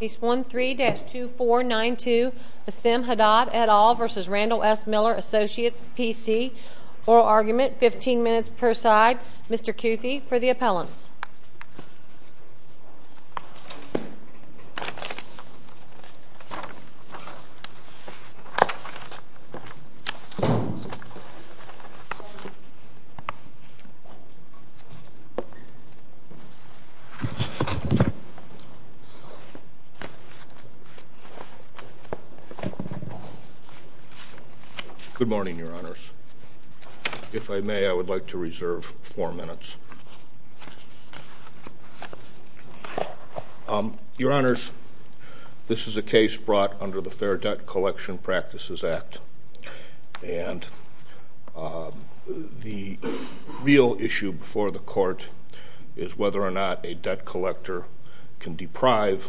Case 13-2492 Basim Haddad et al. v. Randall S. Miller Associates PC Oral argument, 15 minutes per side Mr. Cuthie for the appellants Good morning, Your Honors. If I may, I would like to reserve four minutes. Your Honors, this is a case brought under the Fair Debt Collection Practices Act. And the real issue before the court is whether or not a debt collector can deprive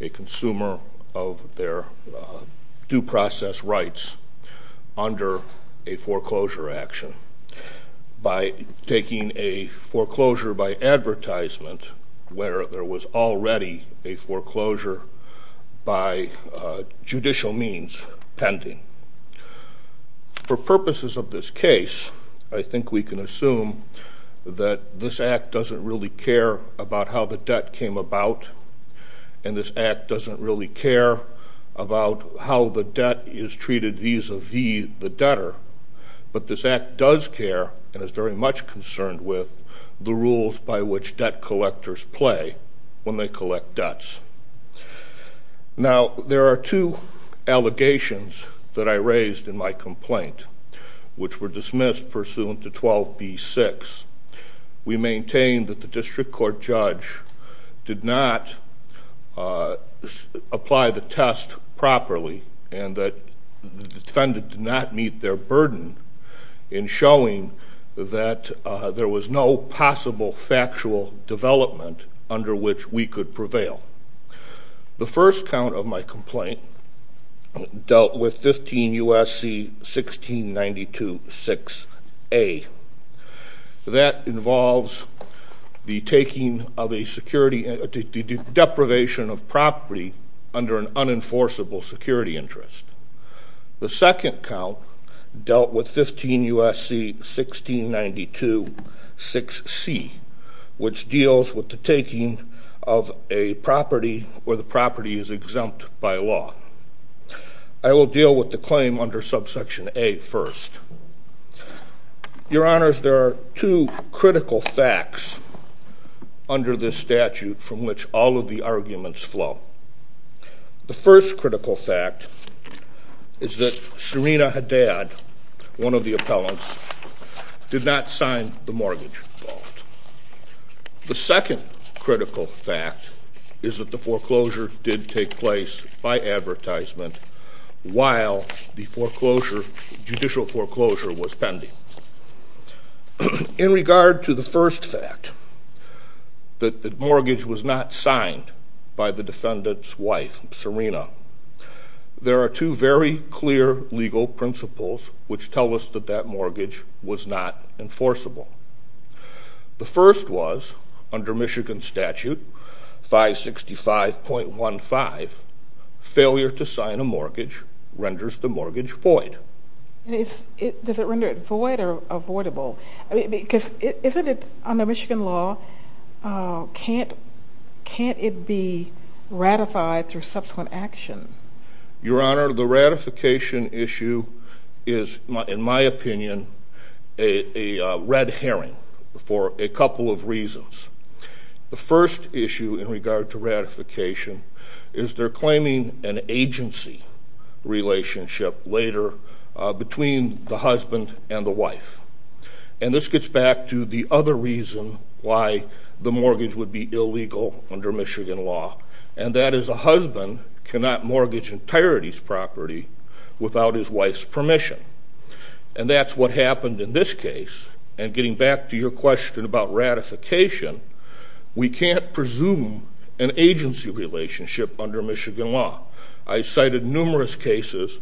a consumer of their due process rights under a foreclosure action. By taking a foreclosure by advertisement where there was already a foreclosure by judicial means pending. For purposes of this case, I think we can assume that this act doesn't really care about how the debt came about. And this act doesn't really care about how the debt is treated vis-a-vis the debtor. But this act does care and is very much concerned with the rules by which debt collectors play when they collect debts. Now, there are two allegations that I raised in my complaint, which were dismissed pursuant to 12b-6. We maintain that the district court judge did not apply the test properly. And that the defendant did not meet their burden in showing that there was no possible factual development under which we could prevail. The first count of my complaint dealt with 15 U.S.C. 1692-6A. That involves the deprivation of property under an unenforceable security interest. The second count dealt with 15 U.S.C. 1692-6C, which deals with the taking of a property where the property is exempt by law. I will deal with the claim under subsection A first. Your Honors, there are two critical facts under this statute from which all of the arguments flow. The first critical fact is that Serena Haddad, one of the appellants, did not sign the mortgage. The second critical fact is that the foreclosure did take place by advertisement while the judicial foreclosure was pending. In regard to the first fact, that the mortgage was not signed by the defendant's wife, Serena, there are two very clear legal principles which tell us that that mortgage was not enforceable. The first was, under Michigan statute 565.15, failure to sign a mortgage renders the mortgage void. Does it render it void or avoidable? Because isn't it, under Michigan law, can't it be ratified through subsequent action? Your Honor, the ratification issue is, in my opinion, a red herring for a couple of reasons. The first issue in regard to ratification is they're claiming an agency relationship later between the husband and the wife. And this gets back to the other reason why the mortgage would be illegal under Michigan law, and that is a husband cannot mortgage an entirety's property without his wife's permission. And that's what happened in this case. And getting back to your question about ratification, we can't presume an agency relationship under Michigan law. I cited numerous cases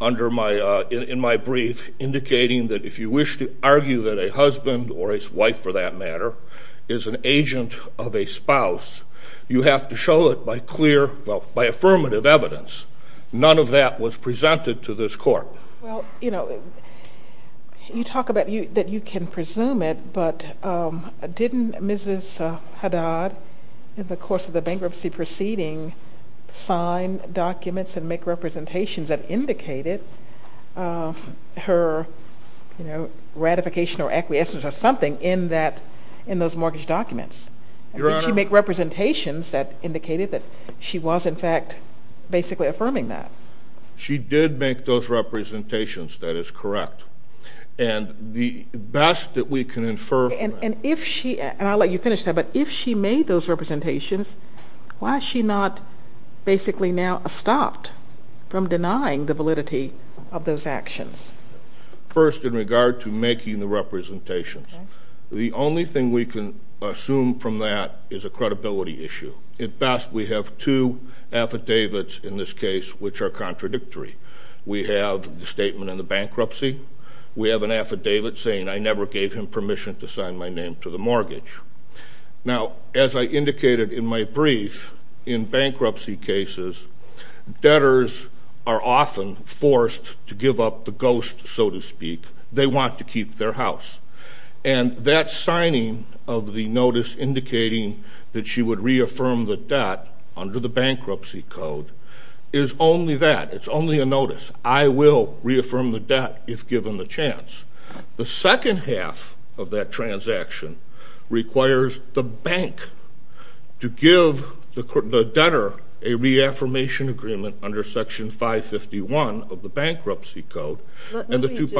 in my brief indicating that if you wish to argue that a husband, or his wife for that matter, is an agent of a spouse, you have to show it by affirmative evidence. None of that was presented to this Court. Well, you know, you talk about that you can presume it, but didn't Mrs. Haddad, in the course of the bankruptcy proceeding, sign documents and make representations that indicated her ratification or acquiescence or something in those mortgage documents? I think she made representations that indicated that she was, in fact, basically affirming that. She did make those representations. That is correct. And the best that we can infer from that... And if she, and I'll let you finish that, but if she made those representations, why is she not basically now stopped from denying the validity of those actions? First, in regard to making the representations, the only thing we can assume from that is a credibility issue. At best, we have two affidavits in this case which are contradictory. We have the statement in the bankruptcy. We have an affidavit saying, I never gave him permission to sign my name to the mortgage. Now, as I indicated in my brief, in bankruptcy cases, debtors are often forced to give up the ghost, so to speak. They want to keep their house. And that signing of the notice indicating that she would reaffirm the debt under the bankruptcy code is only that. It's only a notice. I will reaffirm the debt if given the chance. The second half of that transaction requires the bank to give the debtor a reaffirmation agreement under Section 551 of the bankruptcy code. Let me just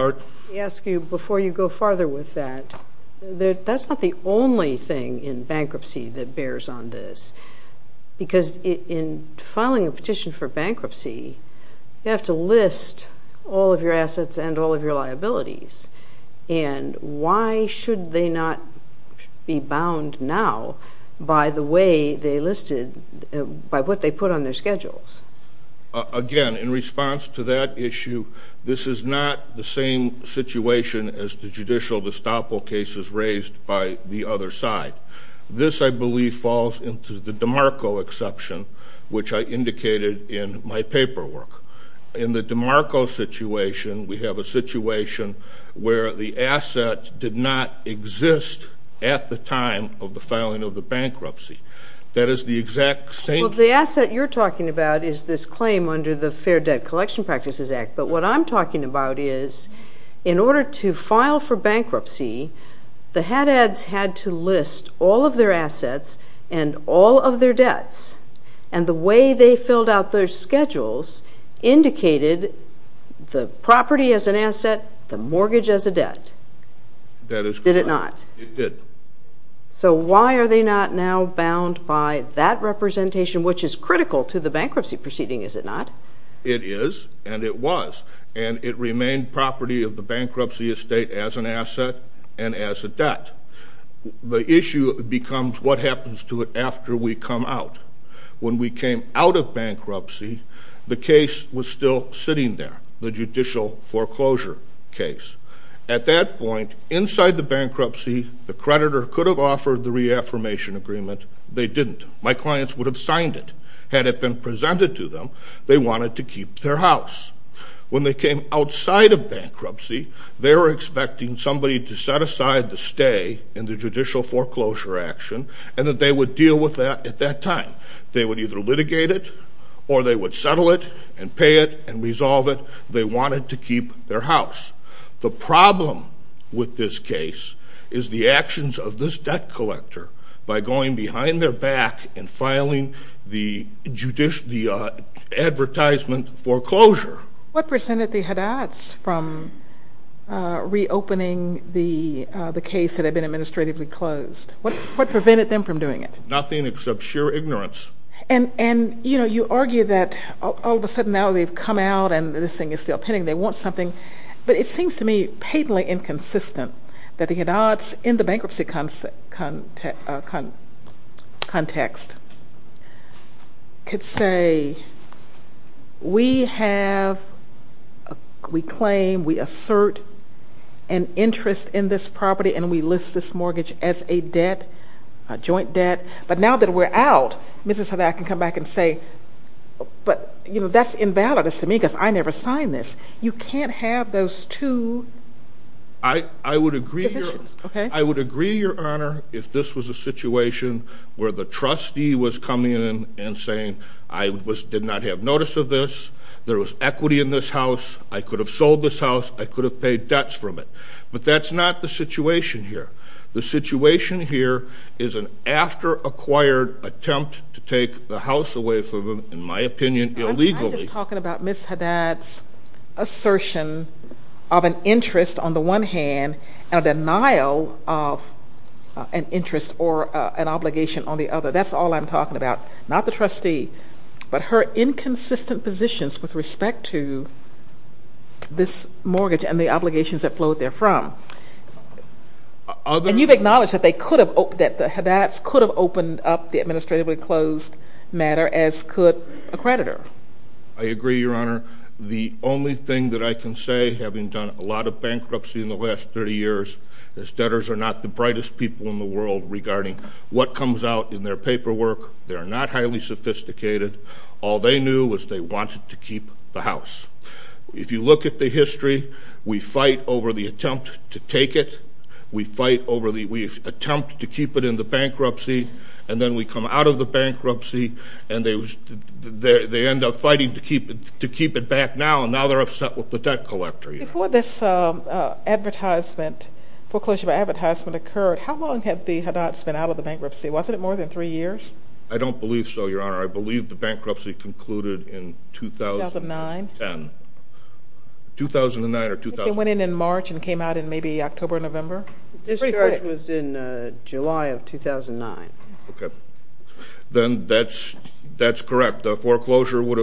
ask you before you go farther with that, that's not the only thing in bankruptcy that bears on this. Because in filing a petition for bankruptcy, you have to list all of your assets and all of your liabilities. And why should they not be bound now by the way they listed, by what they put on their schedules? Again, in response to that issue, this is not the same situation as the judicial estoppel cases raised by the other side. This, I believe, falls into the DeMarco exception, which I indicated in my paperwork. In the DeMarco situation, we have a situation where the asset did not exist at the time of the filing of the bankruptcy. That is the exact same thing. Well, the asset you're talking about is this claim under the Fair Debt Collection Practices Act. But what I'm talking about is in order to file for bankruptcy, the HADADs had to list all of their assets and all of their debts. And the way they filled out their schedules indicated the property as an asset, the mortgage as a debt. That is correct. Did it not? It did. So why are they not now bound by that representation, which is critical to the bankruptcy proceeding, is it not? It is, and it was. And it remained property of the bankruptcy estate as an asset and as a debt. The issue becomes what happens to it after we come out. When we came out of bankruptcy, the case was still sitting there, the judicial foreclosure case. At that point, inside the bankruptcy, the creditor could have offered the reaffirmation agreement. They didn't. My clients would have signed it. Had it been presented to them, they wanted to keep their house. When they came outside of bankruptcy, they were expecting somebody to set aside the stay in the judicial foreclosure action and that they would deal with that at that time. They would either litigate it or they would settle it and pay it and resolve it. They wanted to keep their house. The problem with this case is the actions of this debt collector by going behind their back and filing the advertisement foreclosure. What prevented the Hadats from reopening the case that had been administratively closed? What prevented them from doing it? Nothing except sheer ignorance. And, you know, you argue that all of a sudden now they've come out and this thing is still pending. They want something. But it seems to me patently inconsistent that the Hadats in the bankruptcy context could say, we claim, we assert an interest in this property, and we list this mortgage as a debt, a joint debt. But now that we're out, Mrs. Hadat can come back and say, but, you know, that's invalidous to me because I never signed this. You can't have those two positions. I would agree, Your Honor, if this was a situation where the trustee was coming in and saying, I did not have notice of this. There was equity in this house. I could have sold this house. I could have paid debts from it. But that's not the situation here. The situation here is an after-acquired attempt to take the house away from them, in my opinion, illegally. I'm just talking about Ms. Hadat's assertion of an interest on the one hand and a denial of an interest or an obligation on the other. That's all I'm talking about, not the trustee, but her inconsistent positions with respect to this mortgage and the obligations that flowed therefrom. And you've acknowledged that the Hadats could have opened up the administratively closed matter, as could a creditor. I agree, Your Honor. The only thing that I can say, having done a lot of bankruptcy in the last 30 years, is debtors are not the brightest people in the world regarding what comes out in their paperwork. They're not highly sophisticated. All they knew was they wanted to keep the house. If you look at the history, we fight over the attempt to take it. We fight over the attempt to keep it in the bankruptcy. And then we come out of the bankruptcy, and they end up fighting to keep it back now, and now they're upset with the debt collector. Before this foreclosure advertisement occurred, how long had the Hadats been out of the bankruptcy? Wasn't it more than three years? I don't believe so, Your Honor. I believe the bankruptcy concluded in 2010. 2009. 2009 or 2010. I think it went in in March and came out in maybe October, November. The discharge was in July of 2009. Okay. Then that's correct. The foreclosure would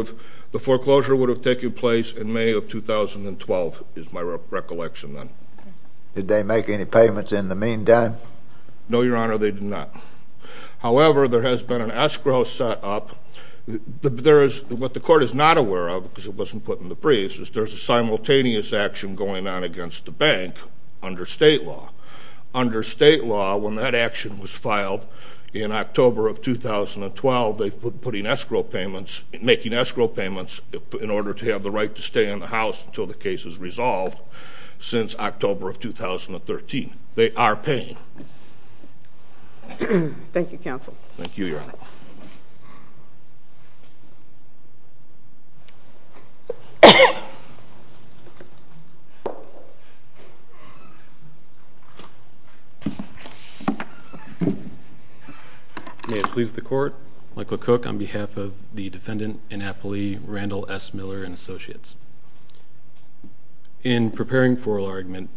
have taken place in May of 2012, is my recollection then. Did they make any payments in the meantime? No, Your Honor, they did not. However, there has been an escrow set up. What the court is not aware of, because it wasn't put in the briefs, is there's a simultaneous action going on against the bank under state law. Under state law, when that action was filed in October of 2012, they were making escrow payments in order to have the right to stay in the house until the case is resolved since October of 2013. They are paying. Thank you, Counsel. Thank you, Your Honor. May it please the Court, Michael Cook on behalf of the defendant, In preparing for an argument,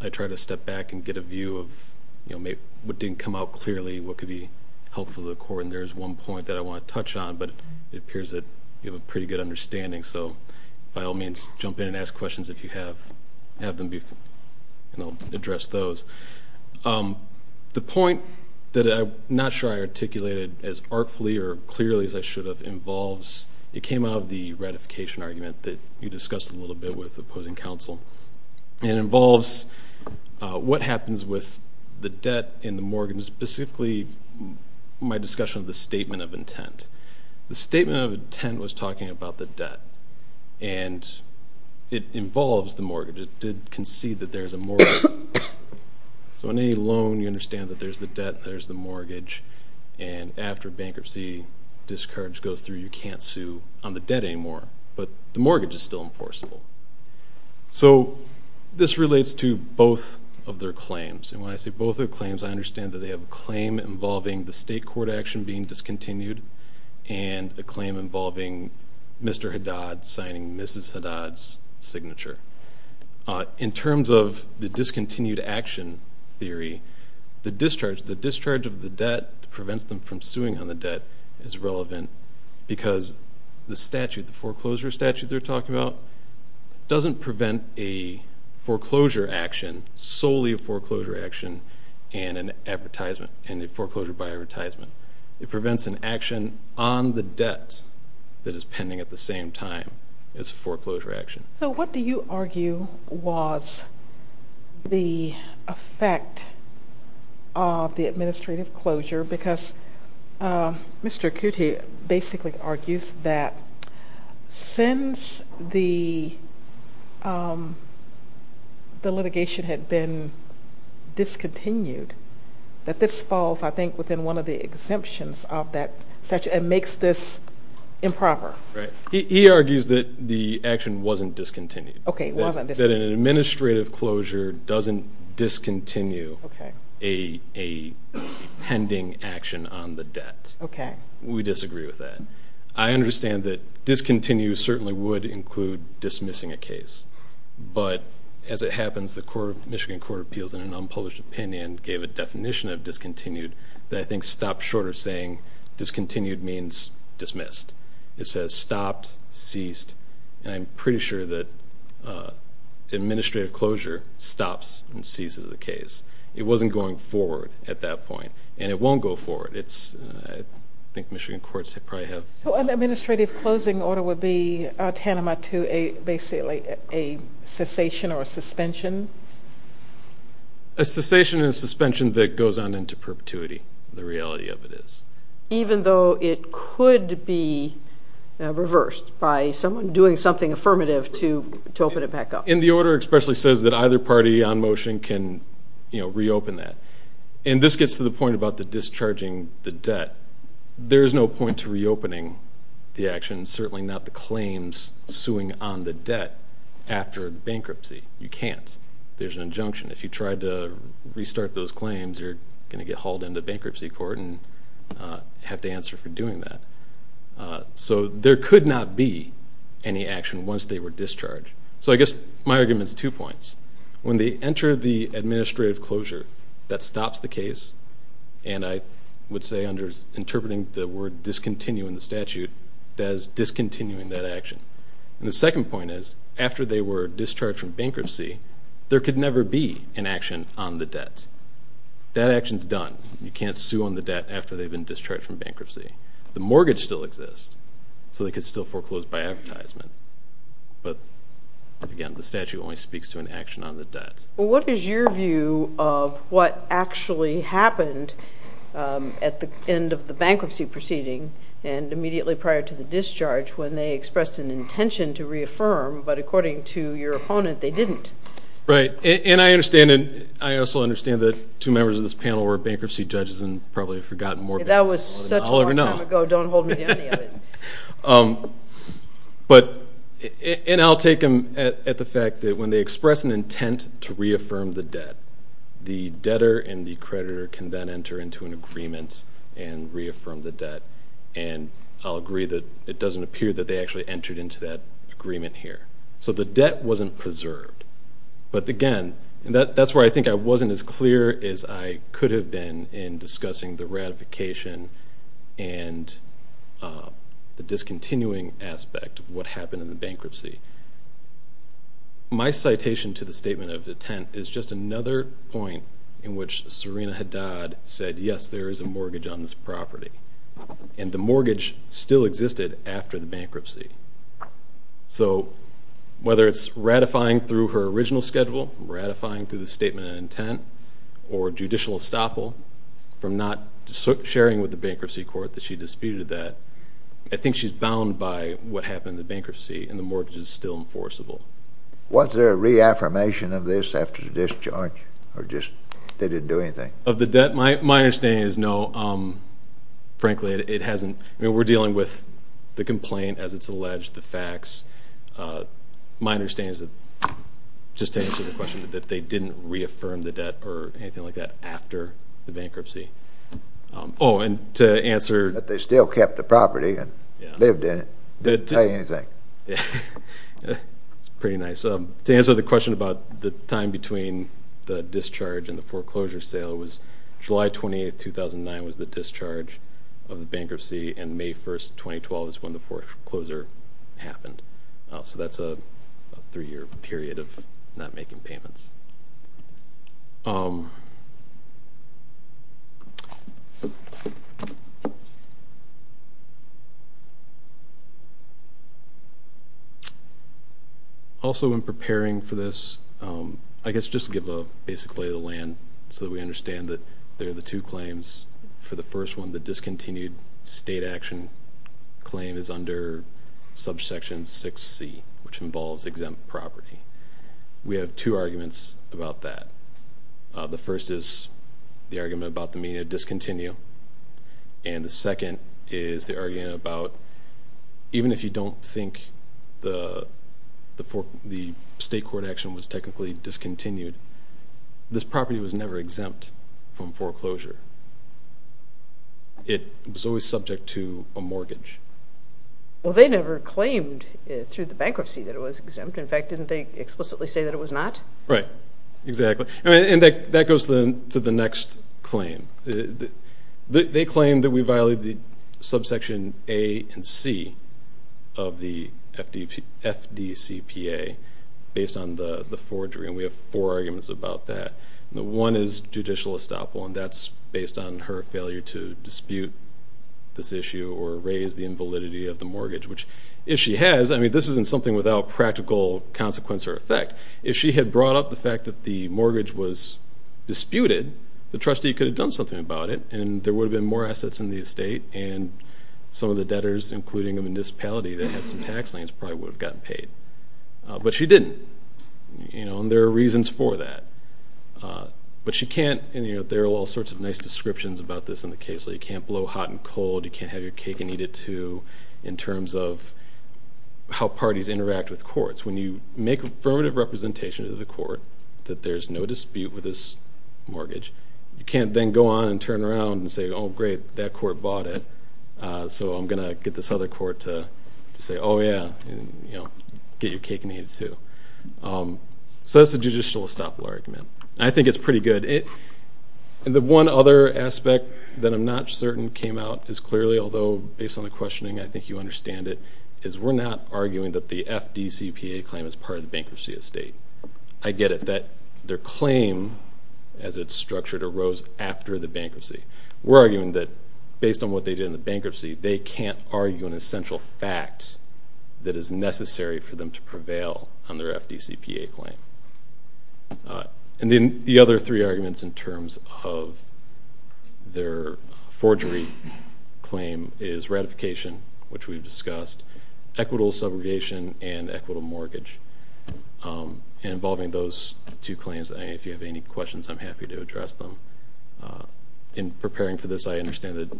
I try to step back and get a view of what didn't come out clearly, what could be helpful to the Court. And there's one point that I want to touch on, but it appears that you have a pretty good understanding. So by all means, jump in and ask questions if you have them, and I'll address those. The point that I'm not sure I articulated as artfully or clearly as I should have It came out of the ratification argument that you discussed a little bit with opposing counsel. It involves what happens with the debt and the mortgage, specifically my discussion of the statement of intent. The statement of intent was talking about the debt, and it involves the mortgage. It did concede that there's a mortgage. So on any loan, you understand that there's the debt, there's the mortgage, and after bankruptcy, discourage goes through, you can't sue on the debt anymore. But the mortgage is still enforceable. So this relates to both of their claims. And when I say both of their claims, I understand that they have a claim involving the state court action being discontinued and a claim involving Mr. Haddad signing Mrs. Haddad's signature. In terms of the discontinued action theory, the discharge of the debt prevents them from suing on the debt is relevant because the statute, the foreclosure statute they're talking about, doesn't prevent a foreclosure action, solely a foreclosure action, and a foreclosure by advertisement. It prevents an action on the debt that is pending at the same time as a foreclosure action. So what do you argue was the effect of the administrative closure? Because Mr. Coote basically argues that since the litigation had been discontinued, that this falls, I think, within one of the exemptions of that statute and makes this improper. Right. He argues that the action wasn't discontinued. It wasn't discontinued. That an administrative closure doesn't discontinue a pending action on the debt. Okay. We disagree with that. I understand that discontinue certainly would include dismissing a case. But as it happens, the Michigan Court of Appeals, in an unpublished opinion, gave a definition of discontinued that I think discontinued means dismissed. It says stopped, ceased. And I'm pretty sure that administrative closure stops and ceases a case. It wasn't going forward at that point. And it won't go forward. I think Michigan courts probably have. So an administrative closing order would be tantamount to basically a cessation or a suspension? A cessation and a suspension that goes on into perpetuity. The reality of it is. Even though it could be reversed by someone doing something affirmative to open it back up. And the order especially says that either party on motion can reopen that. And this gets to the point about the discharging the debt. There's no point to reopening the action, certainly not the claims suing on the debt after bankruptcy. You can't. There's an injunction. If you tried to restart those claims, you're going to get hauled into bankruptcy court and have to answer for doing that. So there could not be any action once they were discharged. So I guess my argument is two points. When they enter the administrative closure, that stops the case. And I would say under interpreting the word discontinue in the statute, that is discontinuing that action. And the second point is, after they were discharged from bankruptcy, there could never be an action on the debt. That action's done. You can't sue on the debt after they've been discharged from bankruptcy. The mortgage still exists, so they could still foreclose by advertisement. But, again, the statute only speaks to an action on the debt. What is your view of what actually happened at the end of the bankruptcy proceeding and immediately prior to the discharge when they expressed an intention to reaffirm, but according to your opponent, they didn't? Right. And I understand that two members of this panel were bankruptcy judges and probably have forgotten more. That was such a long time ago. Don't hold me to any of it. And I'll take them at the fact that when they express an intent to reaffirm the debt, the debtor and the creditor can then enter into an agreement and reaffirm the debt. And I'll agree that it doesn't appear that they actually entered into that agreement here. So the debt wasn't preserved. But, again, that's where I think I wasn't as clear as I could have been in discussing the ratification and the discontinuing aspect of what happened in the bankruptcy. My citation to the statement of intent is just another point in which Serena Haddad said, yes, there is a mortgage on this property, and the mortgage still existed after the bankruptcy. So whether it's ratifying through her original schedule, ratifying through the statement of intent, or judicial estoppel from not sharing with the bankruptcy court that she disputed that, I think she's bound by what happened in the bankruptcy and the mortgage is still enforceable. Was there a reaffirmation of this after the discharge or just they didn't do anything? Of the debt, my understanding is no. Frankly, it hasn't. I mean, we're dealing with the complaint as it's alleged, the facts. My understanding is that, just to answer the question, that they didn't reaffirm the debt or anything like that after the bankruptcy. Oh, and to answer... But they still kept the property and lived in it. Didn't say anything. That's pretty nice. To answer the question about the time between the discharge and the foreclosure sale was July 28, 2009 was the discharge of the bankruptcy, and May 1, 2012 is when the foreclosure happened. So that's a three-year period of not making payments. Also, in preparing for this, I guess just to give a basic lay of the land so that we understand that there are the two claims. For the first one, the discontinued state action claim is under subsection 6C, which involves exempt property. We have two arguments about that. The first is the argument about the need to discontinue, and the second is the argument about, even if you don't think the state court action was technically discontinued, this property was never exempt from foreclosure. It was always subject to a mortgage. Well, they never claimed through the bankruptcy that it was exempt. In fact, didn't they explicitly say that it was not? Right. Exactly. And that goes to the next claim. They claim that we violated subsection A and C of the FDCPA based on the forgery, and we have four arguments about that. One is judicial estoppel, and that's based on her failure to dispute this issue or raise the invalidity of the mortgage, which, if she has, I mean this isn't something without practical consequence or effect. If she had brought up the fact that the mortgage was disputed, the trustee could have done something about it, and there would have been more assets in the estate, and some of the debtors, including the municipality that had some tax liens, probably would have gotten paid. But she didn't, and there are reasons for that. But she can't, and there are all sorts of nice descriptions about this in the case. You can't blow hot and cold, you can't have your cake and eat it too, in terms of how parties interact with courts. When you make affirmative representation to the court that there's no dispute with this mortgage, you can't then go on and turn around and say, oh, great, that court bought it, so I'm going to get this other court to say, oh, yeah, get your cake and eat it too. So that's the judicial estoppel argument. I think it's pretty good. The one other aspect that I'm not certain came out as clearly, although based on the questioning I think you understand it, is we're not arguing that the FDCPA claim is part of the bankruptcy estate. I get it, that their claim, as it's structured, arose after the bankruptcy. We're arguing that based on what they did in the bankruptcy, they can't argue an essential fact that is necessary for them to prevail on their FDCPA claim. And then the other three arguments in terms of their forgery claim is ratification, which we've discussed, equitable subrogation, and equitable mortgage. And involving those two claims, if you have any questions, I'm happy to address them. In preparing for this, I understand that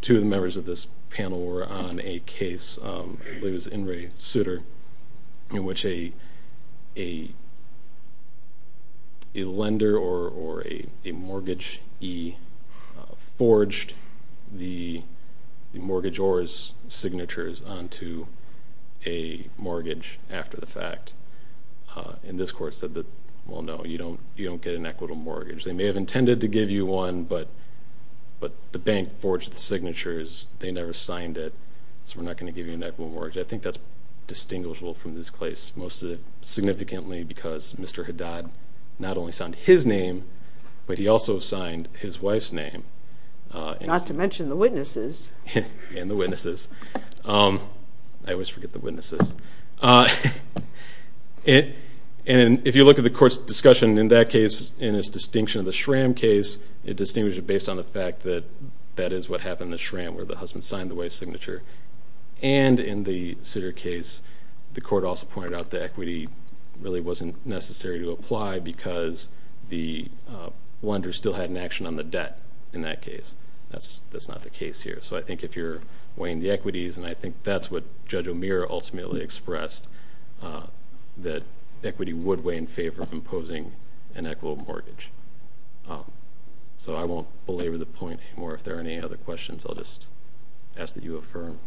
two of the members of this panel were on a case, I believe it was In re Souter, in which a lender or a mortgagee forged the mortgageor's signatures onto a mortgage after the fact. And this court said that, well, no, you don't get an equitable mortgage. They may have intended to give you one, but the bank forged the signatures. They never signed it, so we're not going to give you an equitable mortgage. I think that's distinguishable from this case, most significantly because Mr. Haddad not only signed his name, but he also signed his wife's name. Not to mention the witnesses. And the witnesses. I always forget the witnesses. And if you look at the court's discussion in that case, in its distinction of the Schramm case, it distinguished it based on the fact that that is what happened in the Schramm, where the husband signed the wife's signature. And in the Souter case, the court also pointed out that equity really wasn't necessary to apply because the lender still had an action on the debt in that case. That's not the case here. So I think if you're weighing the equities, and I think that's what Judge O'Meara ultimately expressed, that equity would weigh in favor of imposing an equitable mortgage. So I won't belabor the point anymore. If there are any other questions, I'll just ask that you affirm.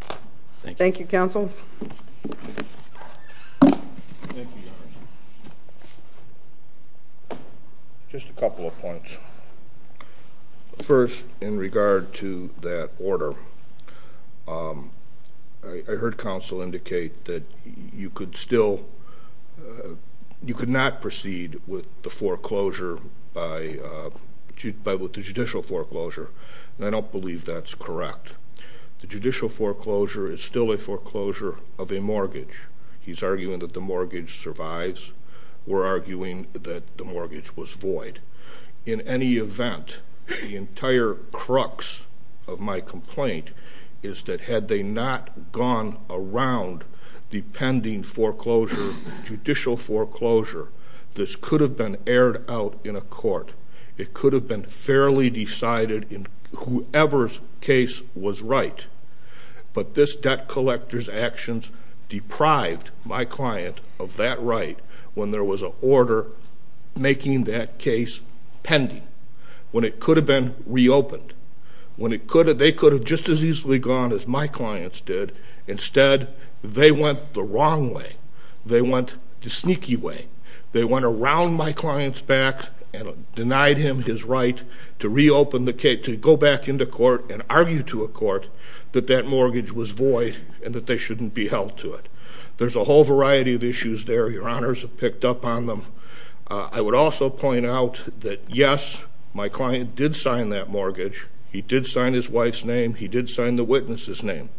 Thank you. Thank you, counsel. Thank you, Your Honor. Just a couple of points. First, in regard to that order, I heard counsel indicate that you could still not proceed with the foreclosure, with the judicial foreclosure, and I don't believe that's correct. The judicial foreclosure is still a foreclosure of a mortgage. He's arguing that the mortgage survives. We're arguing that the mortgage was void. In any event, the entire crux of my complaint is that had they not gone around the pending foreclosure, judicial foreclosure, this could have been aired out in a court. It could have been fairly decided in whoever's case was right. But this debt collector's actions deprived my client of that right when there was an order making that case pending, when it could have been reopened, when they could have just as easily gone as my clients did. Instead, they went the wrong way. They went the sneaky way. They went around my client's back and denied him his right to reopen the case, to go back into court and argue to a court that that mortgage was void and that they shouldn't be held to it. There's a whole variety of issues there. Your Honors have picked up on them. I would also point out that, yes, my client did sign that mortgage. He did sign his wife's name. He did sign the witness's name.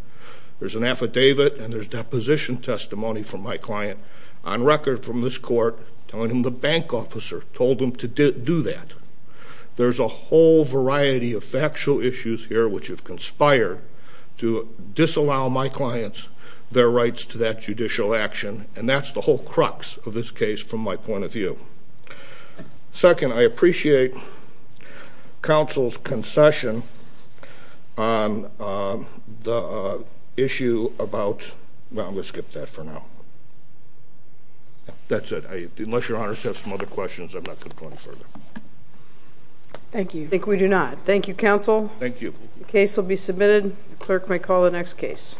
There's an affidavit and there's deposition testimony from my client on record from this court telling him the bank officer told him to do that. There's a whole variety of factual issues here which have conspired to disallow my clients their rights to that judicial action, and that's the whole crux of this case from my point of view. Second, I appreciate Counsel's concession on the issue about... Well, I'm going to skip that for now. That's it. Unless Your Honors have some other questions, I'm not going to go any further. Thank you. I think we do not. Thank you, Counsel. Thank you. The case will be submitted. The clerk may call the next case.